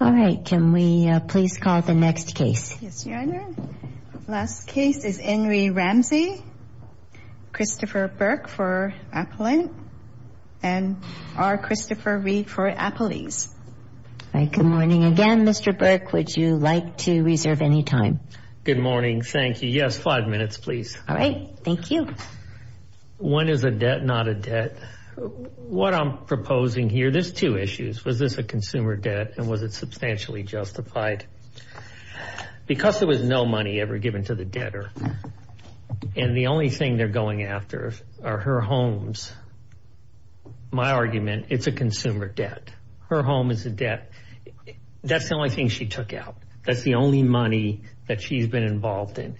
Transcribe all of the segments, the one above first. All right. Can we please call the next case? Yes, Your Honor. Last case is Enri Ramsey. Christopher Burke for Applin. And R. Christopher Reed for Apples. All right. Good morning again, Mr. Burke. Would you like to reserve any time? Good morning. Thank you. Yes, five minutes, please. All right. Thank you. One is a debt, not a debt. What I'm proposing here, there's two issues. Was this a consumer debt, and was it substantially justified? Because there was no money ever given to the debtor, and the only thing they're going after are her homes, my argument, it's a consumer debt. Her home is a debt. That's the only thing she took out. That's the only money that she's been involved in.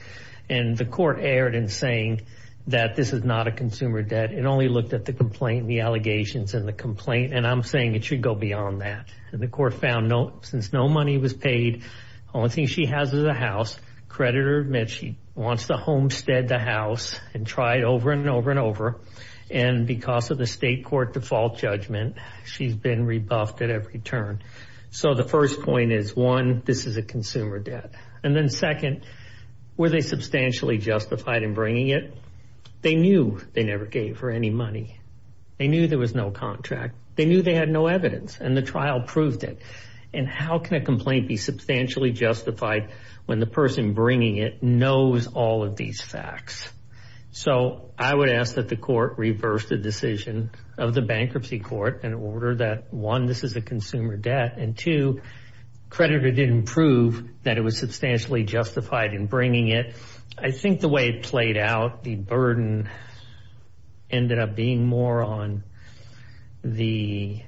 And the court erred in saying that this is not a consumer debt. It only looked at the complaint and the allegations in the complaint, and I'm saying it should go beyond that. And the court found since no money was paid, the only thing she has is a house. Creditor admits she wants to homestead the house and try it over and over and over. And because of the state court default judgment, she's been rebuffed at every turn. So the first point is, one, this is a consumer debt. And then second, were they substantially justified in bringing it? They knew they never gave her any money. They knew there was no contract. They knew they had no evidence, and the trial proved it. And how can a complaint be substantially justified when the person bringing it knows all of these facts? So I would ask that the court reverse the decision of the bankruptcy court and order that, one, this is a consumer debt, and two, creditor didn't prove that it was substantially justified in bringing it. I think the way it played out, the burden ended up being more on the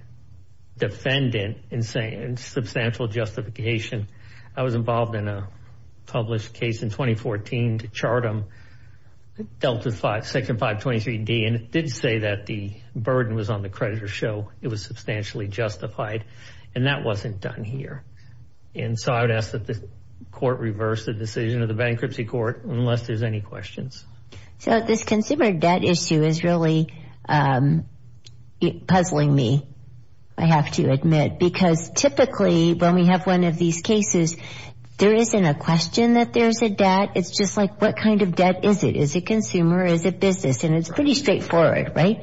defendant and substantial justification. I was involved in a published case in 2014 to chart them, dealt with Section 523D, and it did say that the burden was on the creditor's show it was substantially justified, and that wasn't done here. And so I would ask that the court reverse the decision of the bankruptcy court unless there's any questions. So this consumer debt issue is really puzzling me, I have to admit, because typically when we have one of these cases, there isn't a question that there's a debt. It's just like, what kind of debt is it? Is it consumer or is it business? And it's pretty straightforward, right?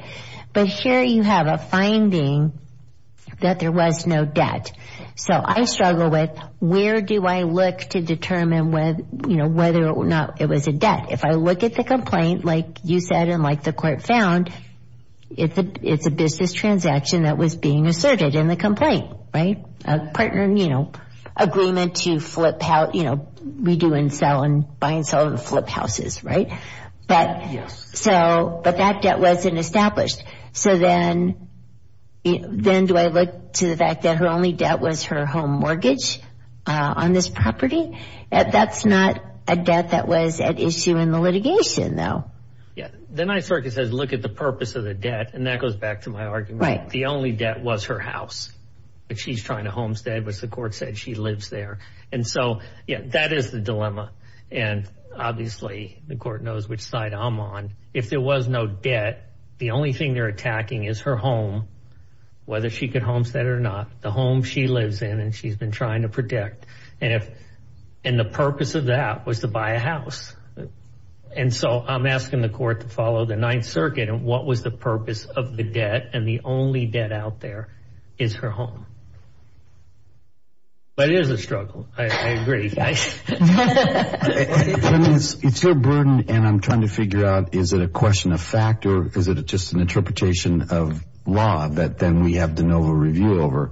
But here you have a finding that there was no debt. So I struggle with, where do I look to determine whether or not it was a debt? If I look at the complaint, like you said and like the court found, it's a business transaction that was being asserted in the complaint, right? A partner, you know, agreement to flip out, you know, redo and sell and buy and sell and flip houses, right? But that debt wasn't established. So then do I look to the fact that her only debt was her home mortgage on this property? That's not a debt that was at issue in the litigation, though. Yeah. The Ninth Circuit says look at the purpose of the debt, and that goes back to my argument. Right. The only debt was her house, but she's trying to homestead, which the court said she lives there. And so, yeah, that is the dilemma. And obviously the court knows which side I'm on. If there was no debt, the only thing they're attacking is her home, whether she could homestead it or not, the home she lives in and she's been trying to protect. And the purpose of that was to buy a house. And so I'm asking the court to follow the Ninth Circuit and what was the purpose of the debt and the only debt out there is her home. But it is a struggle. I agree. It's your burden, and I'm trying to figure out is it a question of fact or is it just an interpretation of law that then we have de novo review over.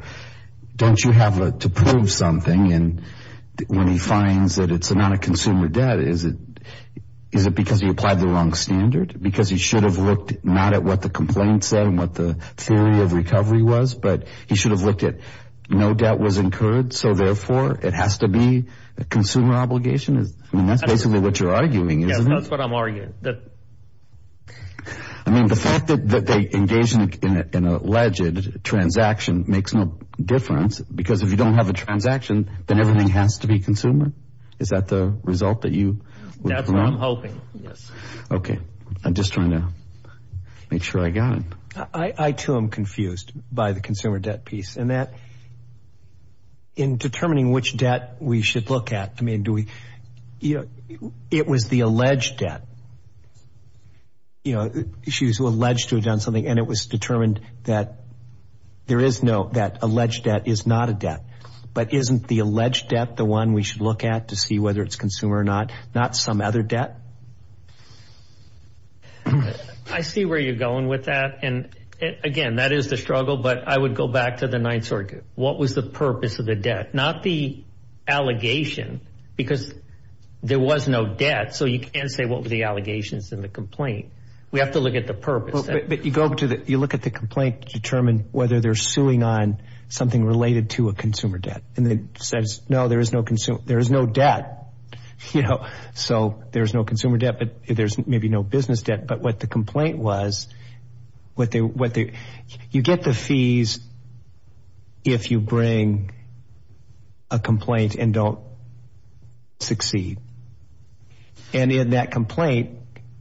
Don't you have to prove something? And when he finds that it's not a consumer debt, is it because he applied the wrong standard? Because he should have looked not at what the complaint said and what the theory of recovery was, but he should have looked at no debt was incurred, so therefore it has to be a consumer obligation. I mean, that's basically what you're arguing, isn't it? Yes, that's what I'm arguing. I mean, the fact that they engaged in an alleged transaction makes no difference because if you don't have a transaction, then everything has to be consumer. Is that the result that you would want? That's what I'm hoping, yes. Okay. I'm just trying to make sure I got it. I, too, am confused by the consumer debt piece. And that in determining which debt we should look at, I mean, do we, you know, it was the alleged debt. You know, she was alleged to have done something, and it was determined that there is no, that alleged debt is not a debt. But isn't the alleged debt the one we should look at to see whether it's consumer or not, not some other debt? I see where you're going with that. And, again, that is the struggle. But I would go back to the Ninth Circuit. What was the purpose of the debt? Not the allegation because there was no debt, so you can't say what were the allegations in the complaint. We have to look at the purpose. But you look at the complaint to determine whether they're suing on something related to a consumer debt. And it says, no, there is no debt, you know, so there's no consumer debt. But there's maybe no business debt. But what the complaint was, you get the fees if you bring a complaint and don't succeed. And in that complaint,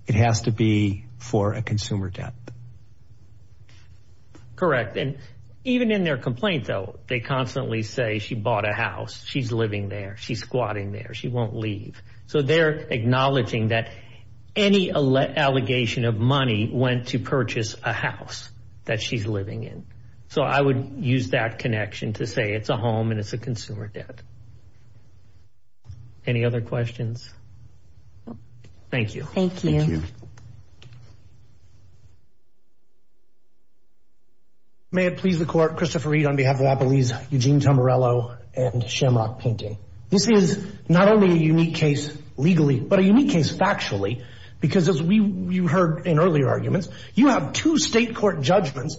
it has to be for a consumer debt. Correct. And even in their complaint, though, they constantly say she bought a house, she's living there, she's squatting there, she won't leave. So they're acknowledging that any allegation of money went to purchase a house that she's living in. So I would use that connection to say it's a home and it's a consumer debt. Any other questions? Thank you. Thank you. May it please the Court. Christopher Reed on behalf of Applebee's, Eugene Tamarello, and Shamrock Painting. This is not only a unique case legally, but a unique case factually. Because as you heard in earlier arguments, you have two state court judgments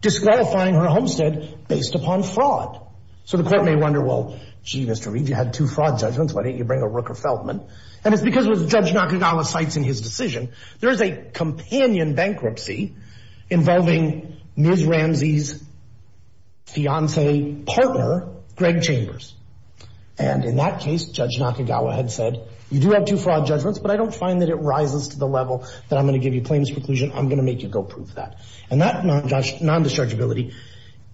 disqualifying her homestead based upon fraud. So the Court may wonder, well, gee, Mr. Reed, you had two fraud judgments, why didn't you bring a Rooker-Feldman? And it's because, as Judge Nakagawa cites in his decision, there is a companion bankruptcy involving Ms. Ramsey's fiancé partner, Greg Chambers. And in that case, Judge Nakagawa had said, you do have two fraud judgments, but I don't find that it rises to the level that I'm going to give you plaintiff's preclusion, I'm going to make you go prove that. And that non-dischargeability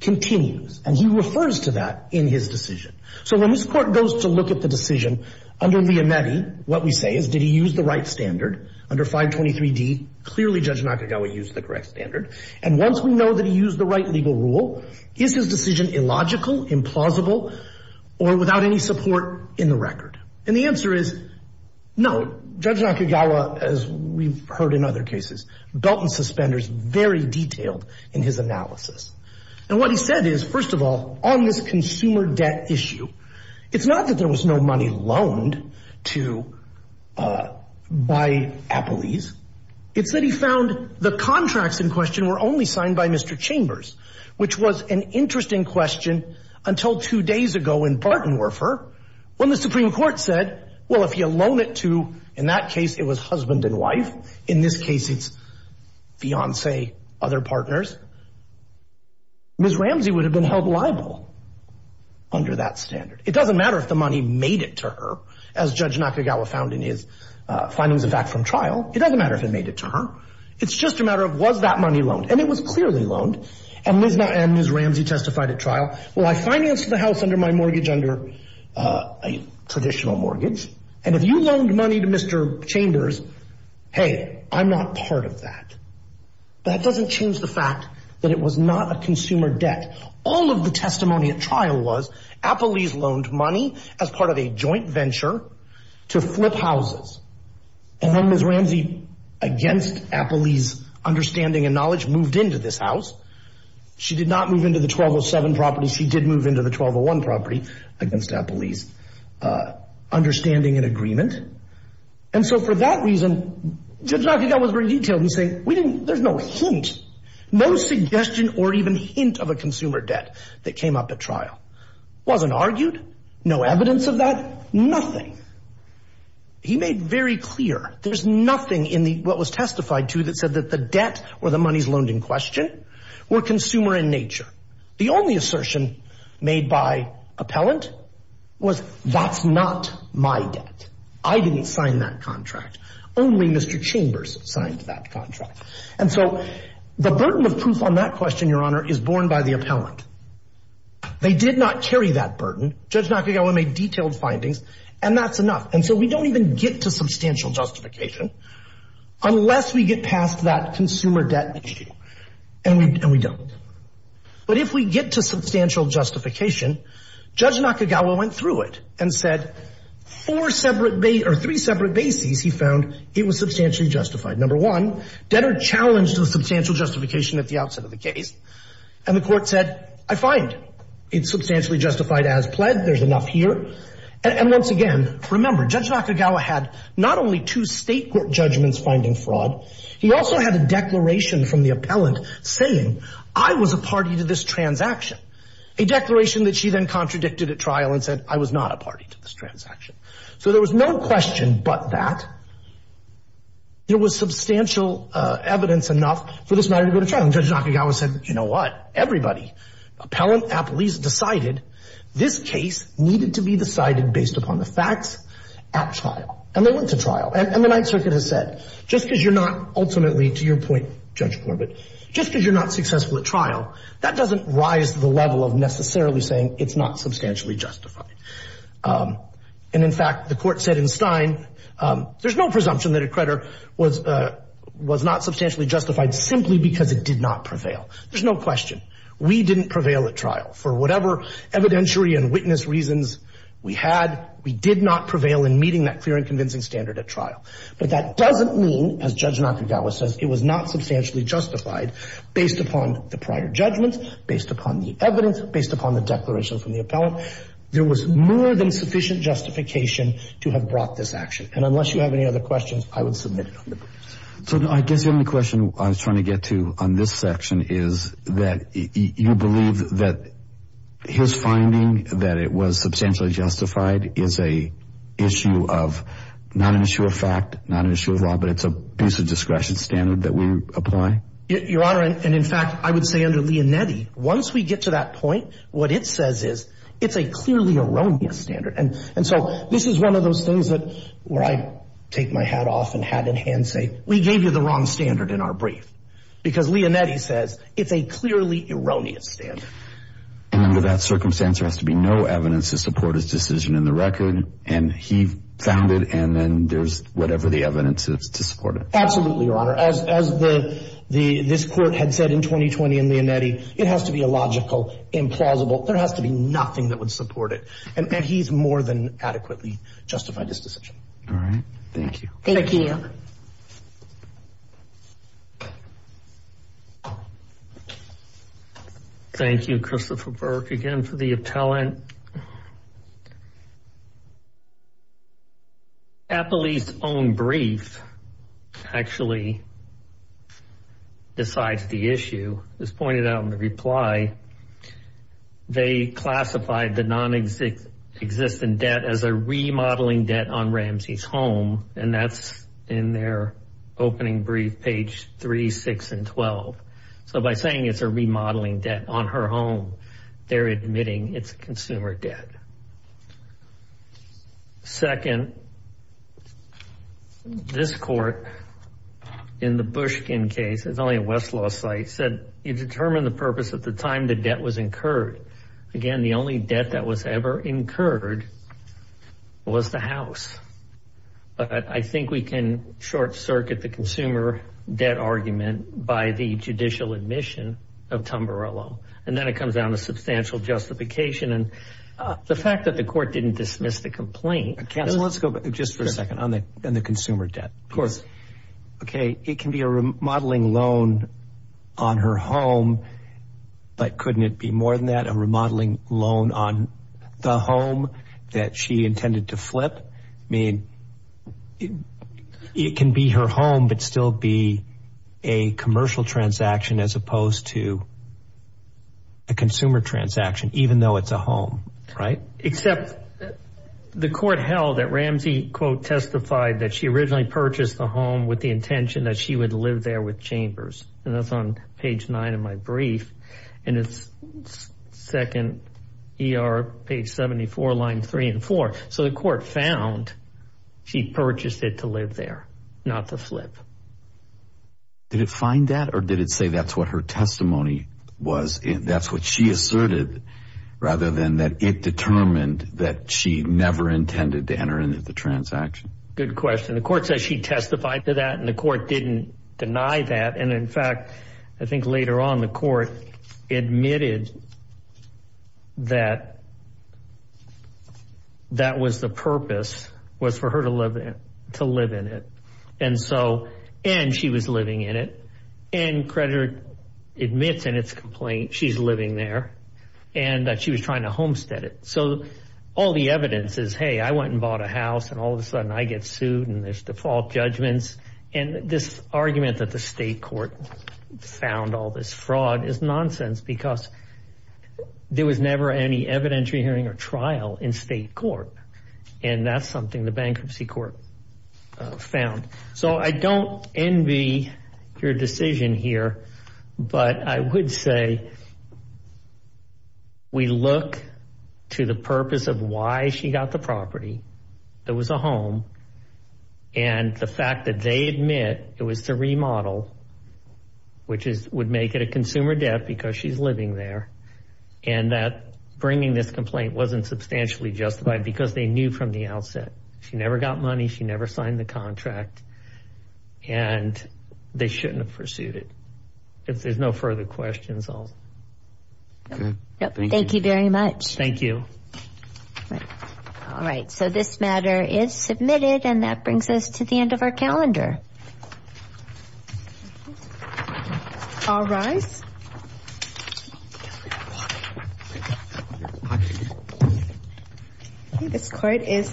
continues. And he refers to that in his decision. So when this Court goes to look at the decision, under Liametti, what we say is, did he use the right standard? Under 523D, clearly Judge Nakagawa used the correct standard. And once we know that he used the right legal rule, is his decision illogical, implausible, or without any support in the record? And the answer is, no. Judge Nakagawa, as we've heard in other cases, dealt in suspenders very detailed in his analysis. And what he said is, first of all, on this consumer debt issue, it's not that there was no money loaned to buy Applees. It's that he found the contracts in question were only signed by Mr. Chambers, which was an interesting question until two days ago in Bartenwerfer, when the Supreme Court said, well, if you loan it to, in that case it was husband and wife, in this case it's fiancé, other partners, Ms. Ramsey would have been held liable under that standard. It doesn't matter if the money made it to her, as Judge Nakagawa found in his findings of fact from trial. It doesn't matter if it made it to her. It's just a matter of was that money loaned. And it was clearly loaned. And Ms. Ramsey testified at trial, well, I financed the house under my mortgage, under a traditional mortgage, and if you loaned money to Mr. Chambers, hey, I'm not part of that. That doesn't change the fact that it was not a consumer debt. All of the testimony at trial was Applees loaned money as part of a joint venture to flip houses. And then Ms. Ramsey, against Applees' understanding and knowledge, moved into this house. She did not move into the 1207 property. She did move into the 1201 property against Applees' understanding and agreement. And so for that reason, Judge Nakagawa was very detailed in saying there's no hint, no suggestion or even hint of a consumer debt that came up at trial. It wasn't argued, no evidence of that, nothing. He made very clear there's nothing in what was testified to that said that the debt or the monies loaned in question were consumer in nature. The only assertion made by appellant was that's not my debt. I didn't sign that contract. Only Mr. Chambers signed that contract. And so the burden of proof on that question, Your Honor, is borne by the appellant. They did not carry that burden. Judge Nakagawa made detailed findings. And that's enough. And so we don't even get to substantial justification unless we get past that consumer debt issue. And we don't. But if we get to substantial justification, Judge Nakagawa went through it and said three separate bases he found it was substantially justified. Number one, debtor challenged the substantial justification at the outset of the case. And the court said, I find it's substantially justified as pled. There's enough here. And once again, remember, Judge Nakagawa had not only two state court judgments finding fraud. He also had a declaration from the appellant saying I was a party to this transaction, a declaration that she then contradicted at trial and said I was not a party to this transaction. So there was no question but that. There was substantial evidence enough for this matter to go to trial. And Judge Nakagawa said, you know what? Everybody, appellant, appellees decided this case needed to be decided based upon the facts at trial. And they went to trial. And the Ninth Circuit has said, just because you're not ultimately, to your point, Judge Corbett, just because you're not successful at trial, that doesn't rise to the level of necessarily saying it's not substantially justified. And, in fact, the court said in Stein, there's no presumption that a creditor was not substantially justified simply because it did not prevail. There's no question. We didn't prevail at trial. For whatever evidentiary and witness reasons we had, we did not prevail in meeting that clear and convincing standard at trial. But that doesn't mean, as Judge Nakagawa says, it was not substantially justified based upon the prior judgments, based upon the evidence, based upon the declaration from the appellant. There was more than sufficient justification to have brought this action. And unless you have any other questions, I would submit it on the books. So I guess the only question I was trying to get to on this section is that you believe that his finding, that it was substantially justified, is a issue of not an issue of fact, not an issue of law, but it's a piece of discretion standard that we apply? Your Honor, and, in fact, I would say under Leonetti, once we get to that point, what it says is it's a clearly erroneous standard. And so this is one of those things where I take my hat off and hat in hand and say, we gave you the wrong standard in our brief because Leonetti says it's a clearly erroneous standard. And under that circumstance, there has to be no evidence to support his decision in the record, and he found it, and then there's whatever the evidence is to support it. Absolutely, Your Honor. As this court had said in 2020 in Leonetti, it has to be illogical, implausible. There has to be nothing that would support it. And he's more than adequately justified his decision. All right. Thank you. Thank you. Thank you, Christopher Burke, again, for the talent. And Appley's own brief actually decides the issue. As pointed out in the reply, they classified the nonexistent debt as a remodeling debt on Ramsey's home, and that's in their opening brief, page 3, 6, and 12. So by saying it's a remodeling debt on her home, they're admitting it's a consumer debt. Second, this court in the Bushkin case, it's only a Westlaw site, said it determined the purpose at the time the debt was incurred. Again, the only debt that was ever incurred was the house. But I think we can short circuit the consumer debt argument by the judicial admission of Tumbarello. And then it comes down to substantial justification. And the fact that the court didn't dismiss the complaint. Counsel, let's go back just for a second on the consumer debt. Of course. Okay. It can be a remodeling loan on her home, but couldn't it be more than that, a remodeling loan on the home that she intended to flip? I mean, it can be her home, but still be a commercial transaction as opposed to a consumer transaction, even though it's a home, right? Except the court held that Ramsey, quote, testified that she originally purchased the home with the intention that she would live there with Chambers. And that's on page 9 of my brief. And it's second ER, page 74, line 3 and 4. So the court found she purchased it to live there, not to flip. Did it find that or did it say that's what her testimony was? That's what she asserted rather than that it determined that she never intended to enter into the transaction? Good question. The court says she testified to that and the court didn't deny that. And, in fact, I think later on the court admitted that that was the purpose was for her to live in it. And so and she was living in it. And creditor admits in its complaint she's living there and that she was trying to homestead it. So all the evidence is, hey, I went and bought a house and all of a sudden I get sued and there's default judgments. And this argument that the state court found all this fraud is nonsense because there was never any evidentiary hearing or trial in state court. And that's something the bankruptcy court found. So I don't envy your decision here, but I would say we look to the purpose of why she got the property. It was a home. And the fact that they admit it was the remodel, which is would make it a consumer debt because she's living there. And that bringing this complaint wasn't substantially justified because they knew from the outset she never got money. She never signed the contract. And they shouldn't have pursued it. If there's no further questions, I'll. Thank you very much. Thank you. All right. So this matter is submitted and that brings us to the end of our calendar. All rise. This court is adjourned.